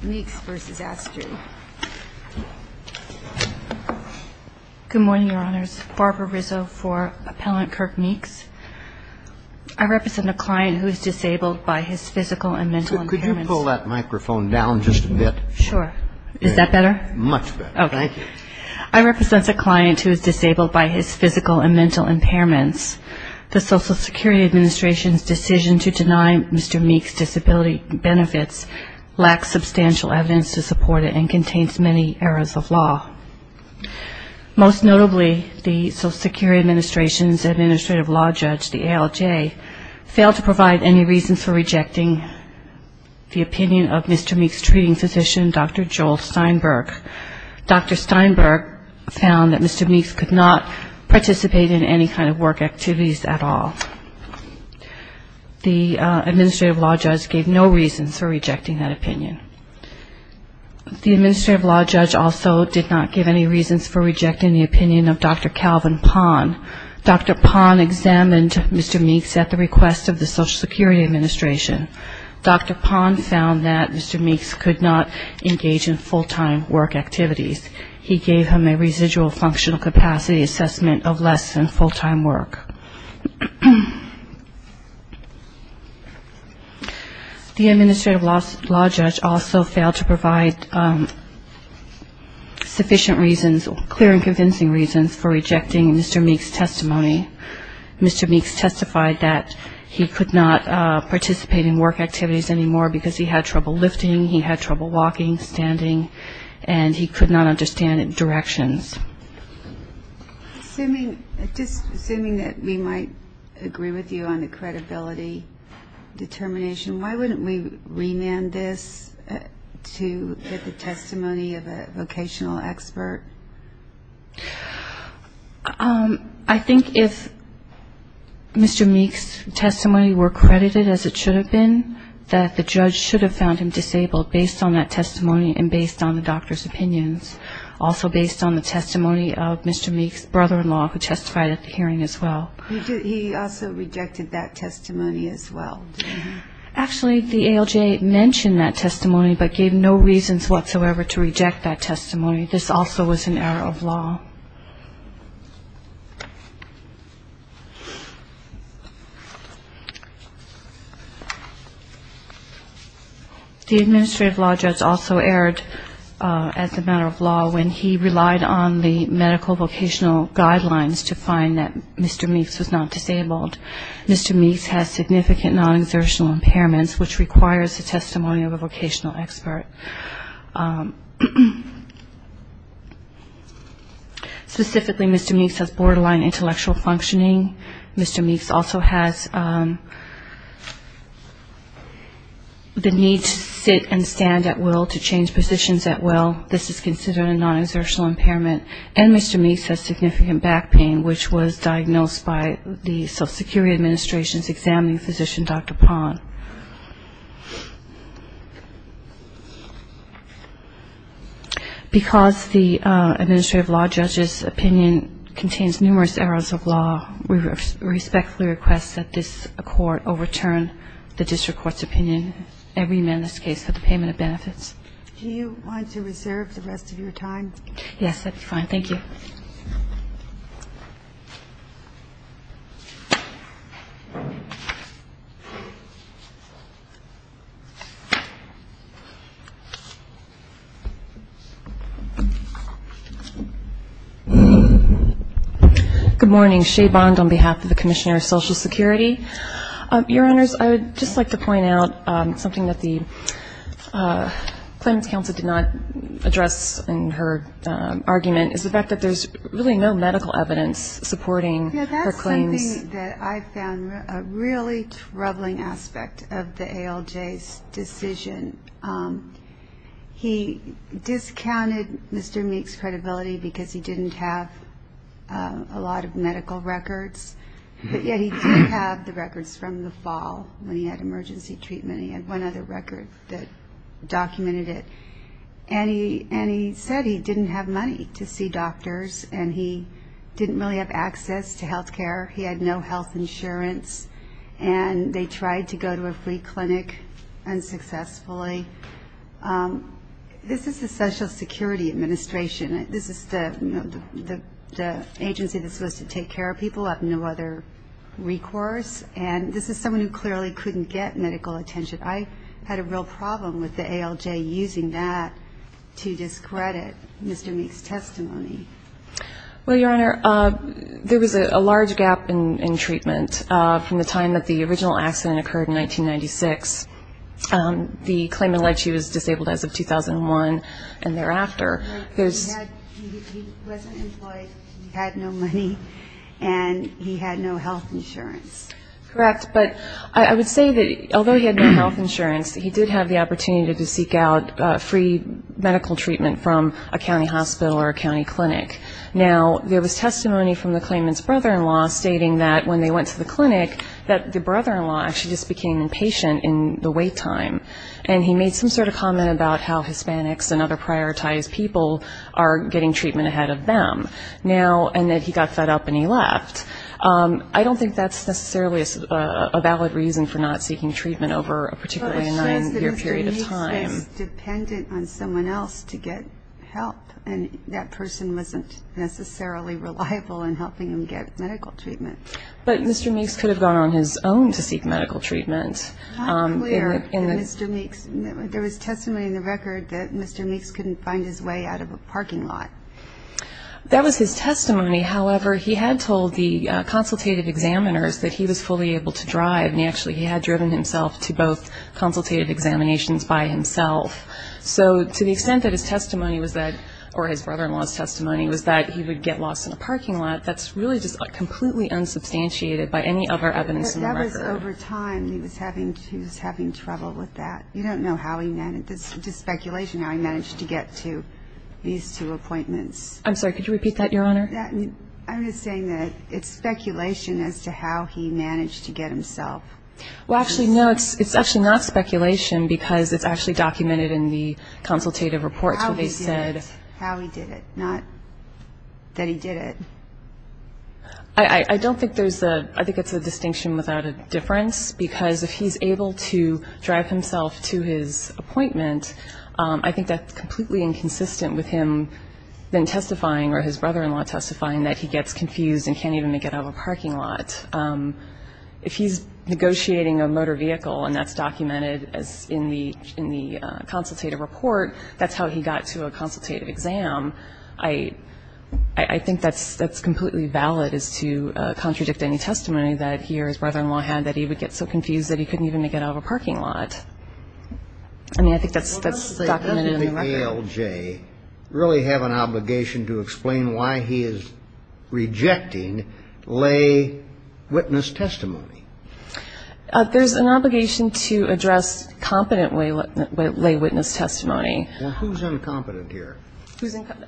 Good morning, Your Honors. Barbara Rizzo for Appellant Kirk Meeks. I represent a client who is disabled by his physical and mental impairments. Could you pull that microphone down just a bit? Sure. Is that better? Much better. Thank you. I represent a client who is disabled by his physical and mental impairments. The Social Security Administrative Law Judge, the ALJ, failed to provide any reasons for rejecting the opinion of Mr. Meeks' treating physician, Dr. Joel Steinberg. Dr. Steinberg found that Mr. Meeks could not participate in any kind of work activities at all. The Administrative Law Judge gave no reasons for rejecting that opinion. The Administrative Law Judge also did not give any reasons for rejecting the opinion of Dr. Calvin Pahn. Dr. Pahn examined Mr. Meeks at the request of the Social Security Administration. Dr. Pahn found that Mr. Meeks could not engage in full-time work activities. He gave him a residual functional capacity assessment of less than full-time work. The Administrative Law Judge also failed to provide sufficient reasons, clear and convincing reasons for rejecting Mr. Meeks' testimony. Mr. Meeks testified that he could not participate in work activities anymore because he had trouble lifting, he had trouble walking, standing, and he could not understand directions. Assuming that we might agree with you on the credibility determination, why wouldn't we remand this to get the testimony of a vocational expert? I think if Mr. Meeks' testimony were credited as it should have been, that the judge should have found him disabled based on that testimony and based on the doctor's opinions. Also based on the testimony of Mr. Meeks' brother-in-law who testified at the hearing as well. He also rejected that testimony as well? Actually the ALJ mentioned that testimony but gave no reasons whatsoever to reject that The Administrative Law Judge also erred as a matter of law when he relied on the medical vocational guidelines to find that Mr. Meeks was not disabled. Mr. Meeks has significant non-exertional impairments, which requires the testimony of a vocational expert. Specifically, Mr. Meeks has borderline intellectual functioning. Mr. Meeks also has the needs to sit and stand at will, to change positions at will. This is considered a non-exertional impairment. And Mr. Meeks has significant back pain, which was diagnosed by the Social Security Administration's examining physician, Dr. Pond. Because the Administrative Law Judge's opinion contains numerous errors of law, we respectfully request that this Court overturn the District Court's opinion, every menace case, for the payment of benefits. Do you want to reserve the rest of your time? Yes, that's fine. Thank you. Good morning. Shae Bond on behalf of the Commissioner of Social Security. Your Honors, I would just like to point out something that the Claims Counsel did not address in her argument is the fact that there's really no medical evidence supporting her claims. Yeah, that's something that I found a really troubling aspect of the ALJ's decision. He discounted Mr. Meeks' credibility because he didn't have a lot of medical records, but yet he did have the records from the fall when he had emergency treatment. He had one other record that documented it. And he said he didn't have money to see doctors, and he didn't really have access to health care. He had no health insurance, and they tried to go to a free clinic unsuccessfully. This is the Social Security Administration. This is the agency that's supposed to take care of people, have no other recourse. And this is someone who clearly couldn't get medical attention. I had a real problem with the ALJ using that to discredit Mr. Meeks' testimony. Well, Your Honor, there was a large gap in treatment from the time that the original accident occurred in 1996. The claim alleged she was disabled as of 2001 and thereafter. He wasn't employed, he had no money, and he had no health insurance. Correct. But I would say that although he had no health insurance, he did have the opportunity to seek out free medical treatment from a county hospital or a county clinic. Now, there was testimony from the claimant's brother-in-law stating that when they went to the clinic, that the brother-in-law actually just became impatient in the wait time. And he made some sort of comment about how Hispanics and other prioritized people are getting treatment ahead of them now, and that he got fed up and he left. I don't think that's necessarily a valid reason for not seeking treatment over a particularly nine-year period of time. Well, it shows that Mr. Meeks was dependent on someone else to get help, and that person wasn't necessarily reliable in helping him get medical treatment. But Mr. Meeks could have gone on his own to seek medical treatment. It's not clear that Mr. Meeks, there was testimony in the record that Mr. Meeks couldn't find his way out of a parking lot. That was his testimony. However, he had told the consultative examiners that he was fully able to drive. And actually, he had driven himself to both consultative examinations by himself. So to the extent that his testimony was that, or his brother-in-law's testimony was that he would get lost in a parking lot, that's really just completely unsubstantiated by any other evidence in the record. That was over time. He was having trouble with that. You don't know how he managed, just speculation, how he managed to get to these two appointments. I'm sorry, could you repeat that, Your Honor? I'm just saying that it's speculation as to how he managed to get himself. Well, actually, no, it's actually not speculation, because it's actually documented in the consultative reports where they said How he did it, how he did it, not that he did it. I don't think there's a, I think it's a distinction without a difference, because if he's able to drive himself to his appointment, I think that's completely inconsistent with him then testifying or his brother-in-law testifying that he gets confused and can't even make it out of a parking lot. If he's negotiating a motor vehicle, and that's documented in the consultative report, that's how he got to a consultative exam. I think that's completely valid as to contradict any testimony that he or his brother-in-law had that he would get so confused that he couldn't even make it out of a parking lot. I mean, I think that's documented in the record. Well, doesn't the ALJ really have an obligation to explain why he is rejecting lay witness testimony? There's an obligation to address competent lay witness testimony. Well, who's incompetent here?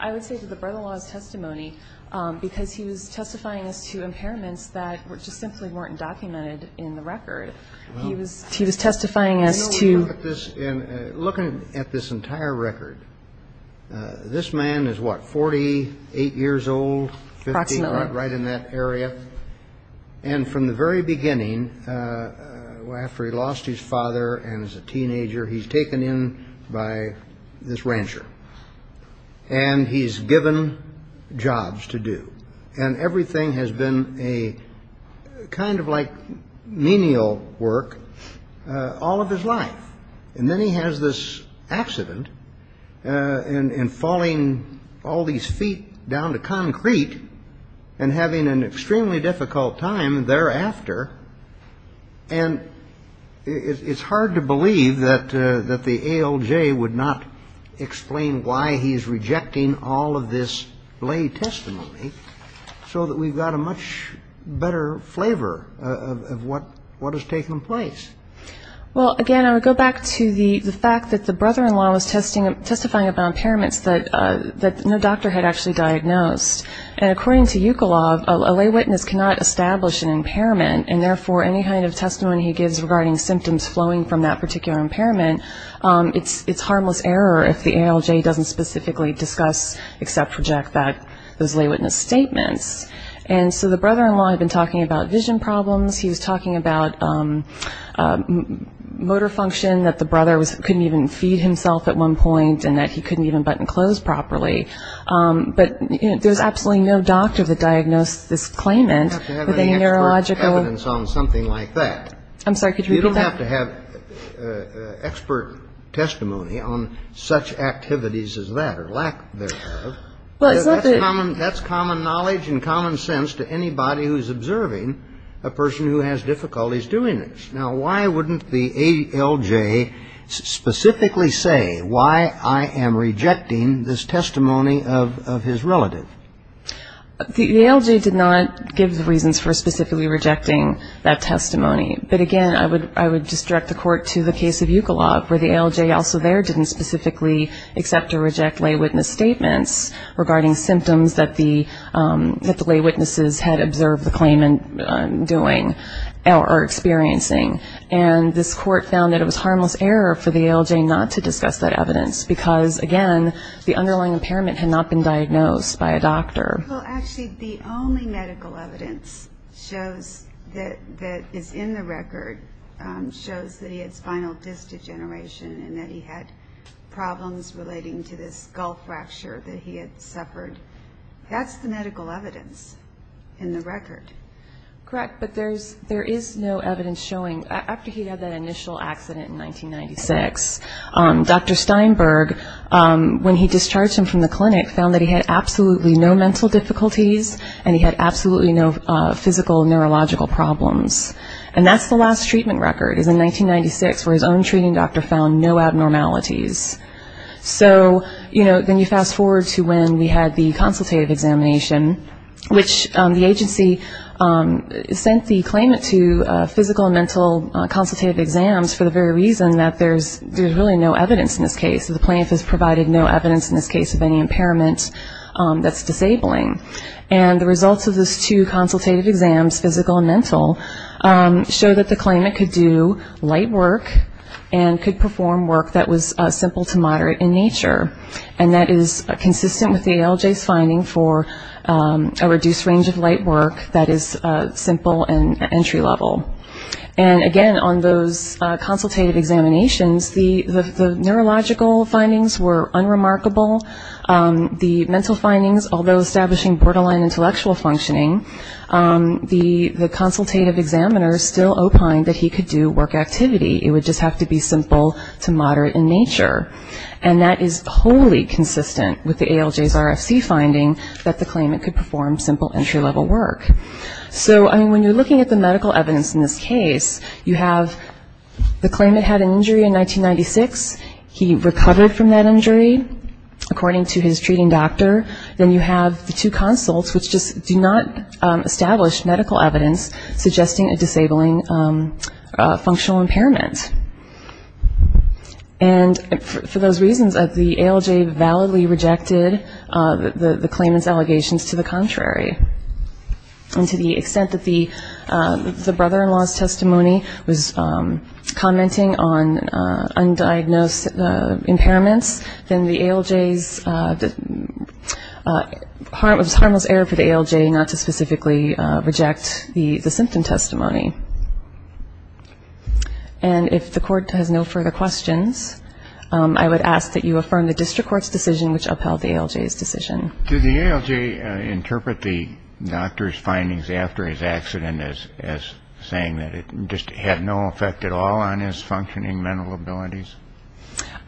I would say that the brother-in-law's testimony, because he was testifying as to impairments that just simply weren't documented in the record. He was testifying as to... Looking at this entire record, this man is, what, 48 years old? Approximately. 50, right in that area. And from the very beginning, after he lost his father and is a teenager, he's taken in by this rancher. And he's given jobs to do. And everything has been a kind of like menial work all of his life. And then he has this accident and falling all these feet down to concrete and having an extremely difficult time thereafter. And it's hard to believe that the ALJ would not explain why he's rejecting all of this lay testimony so that we've got a much better flavor of what has taken place. Well, again, I would go back to the fact that the brother-in-law was testifying about impairments that no doctor had actually diagnosed. And according to UCLAW, a lay witness cannot establish an impairment. And therefore, any kind of testimony he gives regarding symptoms flowing from that particular impairment, it's harmless error if the ALJ doesn't specifically discuss, accept, reject those lay witness statements. And so the brother-in-law had been talking about vision problems. He was talking about motor function, that the brother couldn't even feed himself at one point, and that he couldn't even button clothes properly. But there's absolutely no doctor that diagnosed this claimant. You don't have to have any expert evidence on something like that. I'm sorry, could you repeat that? You don't have to have expert testimony on such activities as that or lack thereof. That's common knowledge and common sense to anybody who's observing a person who has difficulties doing this. Now, why wouldn't the ALJ specifically say, why I am rejecting this testimony of his relative? The ALJ did not give the reasons for specifically rejecting that testimony. But again, I would just direct the court to the case of Eucalop, where the ALJ also there didn't specifically accept or reject lay witness statements regarding symptoms that the lay witnesses had observed the claimant doing or experiencing. And this court found that it was harmless error for the ALJ not to discuss that evidence because, again, the underlying impairment had not been diagnosed by a doctor. Well, actually the only medical evidence shows that is in the record shows that he had spinal disc degeneration and that he had problems relating to this skull fracture that he had suffered. That's the medical evidence in the record. Correct. But there is no evidence showing, after he had that initial accident in 1996, Dr. Steinberg, when he discharged him from the clinic, found that he had absolutely no mental difficulties and he had absolutely no physical neurological problems. And that's the last treatment record is in 1996 where his own treating doctor found no abnormalities. So, you know, then you fast forward to when we had the consultative examination, which the agency sent the claimant to physical and mental consultative exams for the very reason that there's really no evidence in this case. The plaintiff has provided no evidence in this case of any impairment that's disabling. And the results of those two consultative exams, physical and mental, show that the claimant could do light work and could perform work that was simple to moderate in nature. And that is consistent with the ALJ's finding for a reduced range of light work that is simple and entry level. And, again, on those consultative examinations, the neurological findings were unremarkable. The mental findings, although establishing borderline intellectual functioning, the consultative examiner still opined that he could do work activity. It would just have to be simple to moderate in nature. And that is wholly consistent with the ALJ's RFC finding that the claimant could perform simple entry level work. So when you're looking at the medical evidence in this case, you have the claimant had an injury, according to his treating doctor. Then you have the two consults which just do not establish medical evidence suggesting a disabling functional impairment. And for those reasons, the ALJ validly rejected the claimant's allegations to the contrary. And to the extent that the brother-in-law's testimony was commenting on undiagnosed impairments, then the ALJ's harmless error for the ALJ not to specifically reject the symptom testimony. And if the court has no further questions, I would ask that you affirm the district court's decision which upheld the ALJ's decision. Do the ALJ interpret the doctor's findings after his accident as saying that it just had no effect at all on his functioning mental abilities?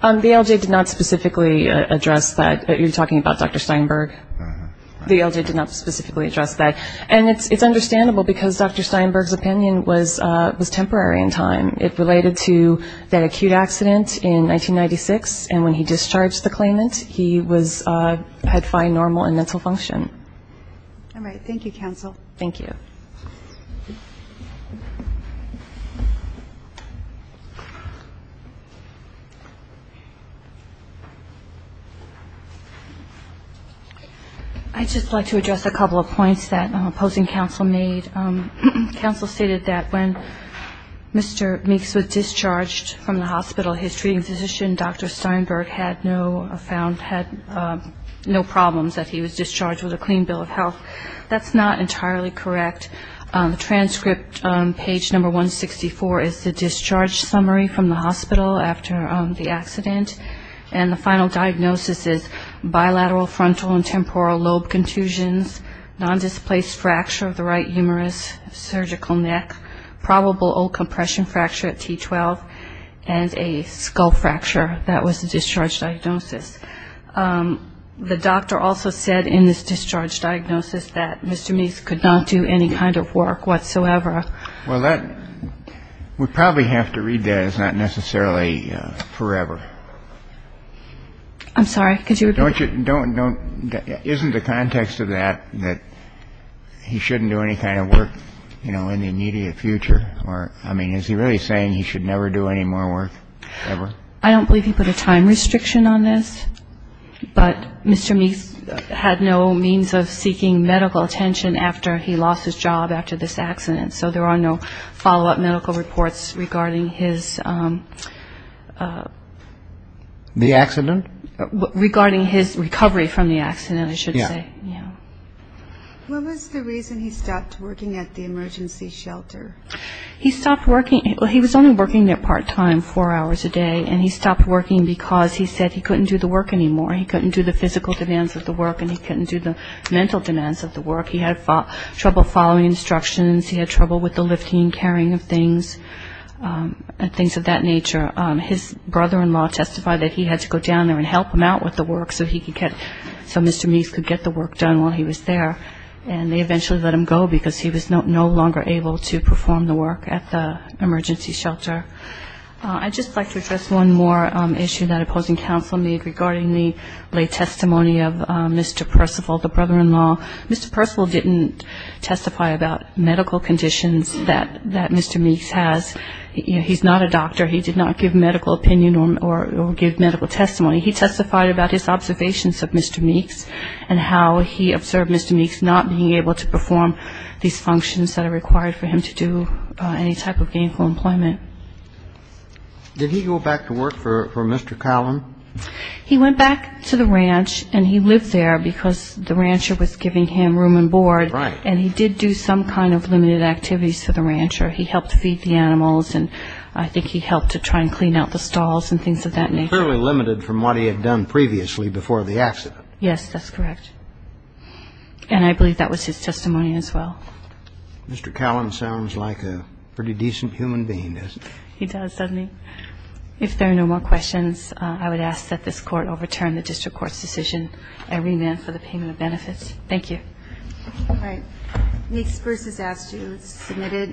The ALJ did not specifically address that. You're talking about Dr. Steinberg. The ALJ did not specifically address that. And it's understandable because Dr. Steinberg's opinion was temporary in time. It related to that acute accident in 1996. And when he discharged the claimant, he had fine normal and mental function. All right. Thank you, counsel. Thank you. I'd just like to address a couple of points that opposing counsel made. Counsel stated that when Mr. Meeks was discharged from the hospital, his treating physician, Dr. Steinberg, had no problems that he was discharged with a clean bill of health. That's not entirely correct. The transcript on page number 164 is the discharge summary from the hospital after the accident. And the final diagnosis is bilateral frontal and temporal lobe contusions, nondisplaced fracture of the right humerus, surgical neck, probable old compression fracture at T12, and a skull fracture. That was the discharge diagnosis. The doctor also said in this discharge diagnosis that Mr. Meeks could not do any kind of work whatsoever. Well, that we probably have to read that as not necessarily forever. I'm sorry. Could you repeat? Don't you don't don't isn't the context of that that he shouldn't do any kind of work, you know, in the immediate future? Or, I mean, is he really saying he should never do any more work ever? I don't believe he put a time restriction on this, but Mr. Meeks had no means of seeking medical attention after he lost his job after this accident. So there are no follow-up medical reports regarding his The accident? Regarding his recovery from the accident, I should say. Yeah. Yeah. When was the reason he stopped working at the emergency shelter? He stopped working. Well, he was only working there part-time four hours a day, and he stopped working because he said he couldn't do the work anymore. He couldn't do the physical demands of the work, and he couldn't do the mental demands of the work. He had trouble following instructions. He had trouble with the lifting and carrying of things and things of that nature. His brother-in-law testified that he had to go down there and help him out with the work so he could get so Mr. Meeks could get the work done while he was there. And they eventually let him go because he was no longer able to perform the work at the emergency shelter. I'd just like to address one more issue that opposing counsel made regarding the late testimony of Mr. Percival, the brother-in-law. Mr. Percival didn't testify about medical conditions that Mr. Meeks has. He's not a doctor. He did not give medical opinion or give medical testimony. He testified about his observations of Mr. Meeks and how he observed Mr. Meeks not being able to perform these functions that are required for him to do any type of gainful employment. Did he go back to work for Mr. Collin? He went back to the ranch and he lived there because the rancher was giving him room and board and he did do some kind of limited activities for the rancher. He helped feed the animals and I think he helped to try and clean out the stalls and things of that nature. Fairly limited from what he had done previously before the accident. Yes, that's correct. And I believe that was his testimony as well. Mr. Collin sounds like a pretty decent human being, doesn't he? He does, doesn't he? If there are no more questions, I would ask that this Court overturn the District Court's decision and remand for the payment of benefits. Thank you.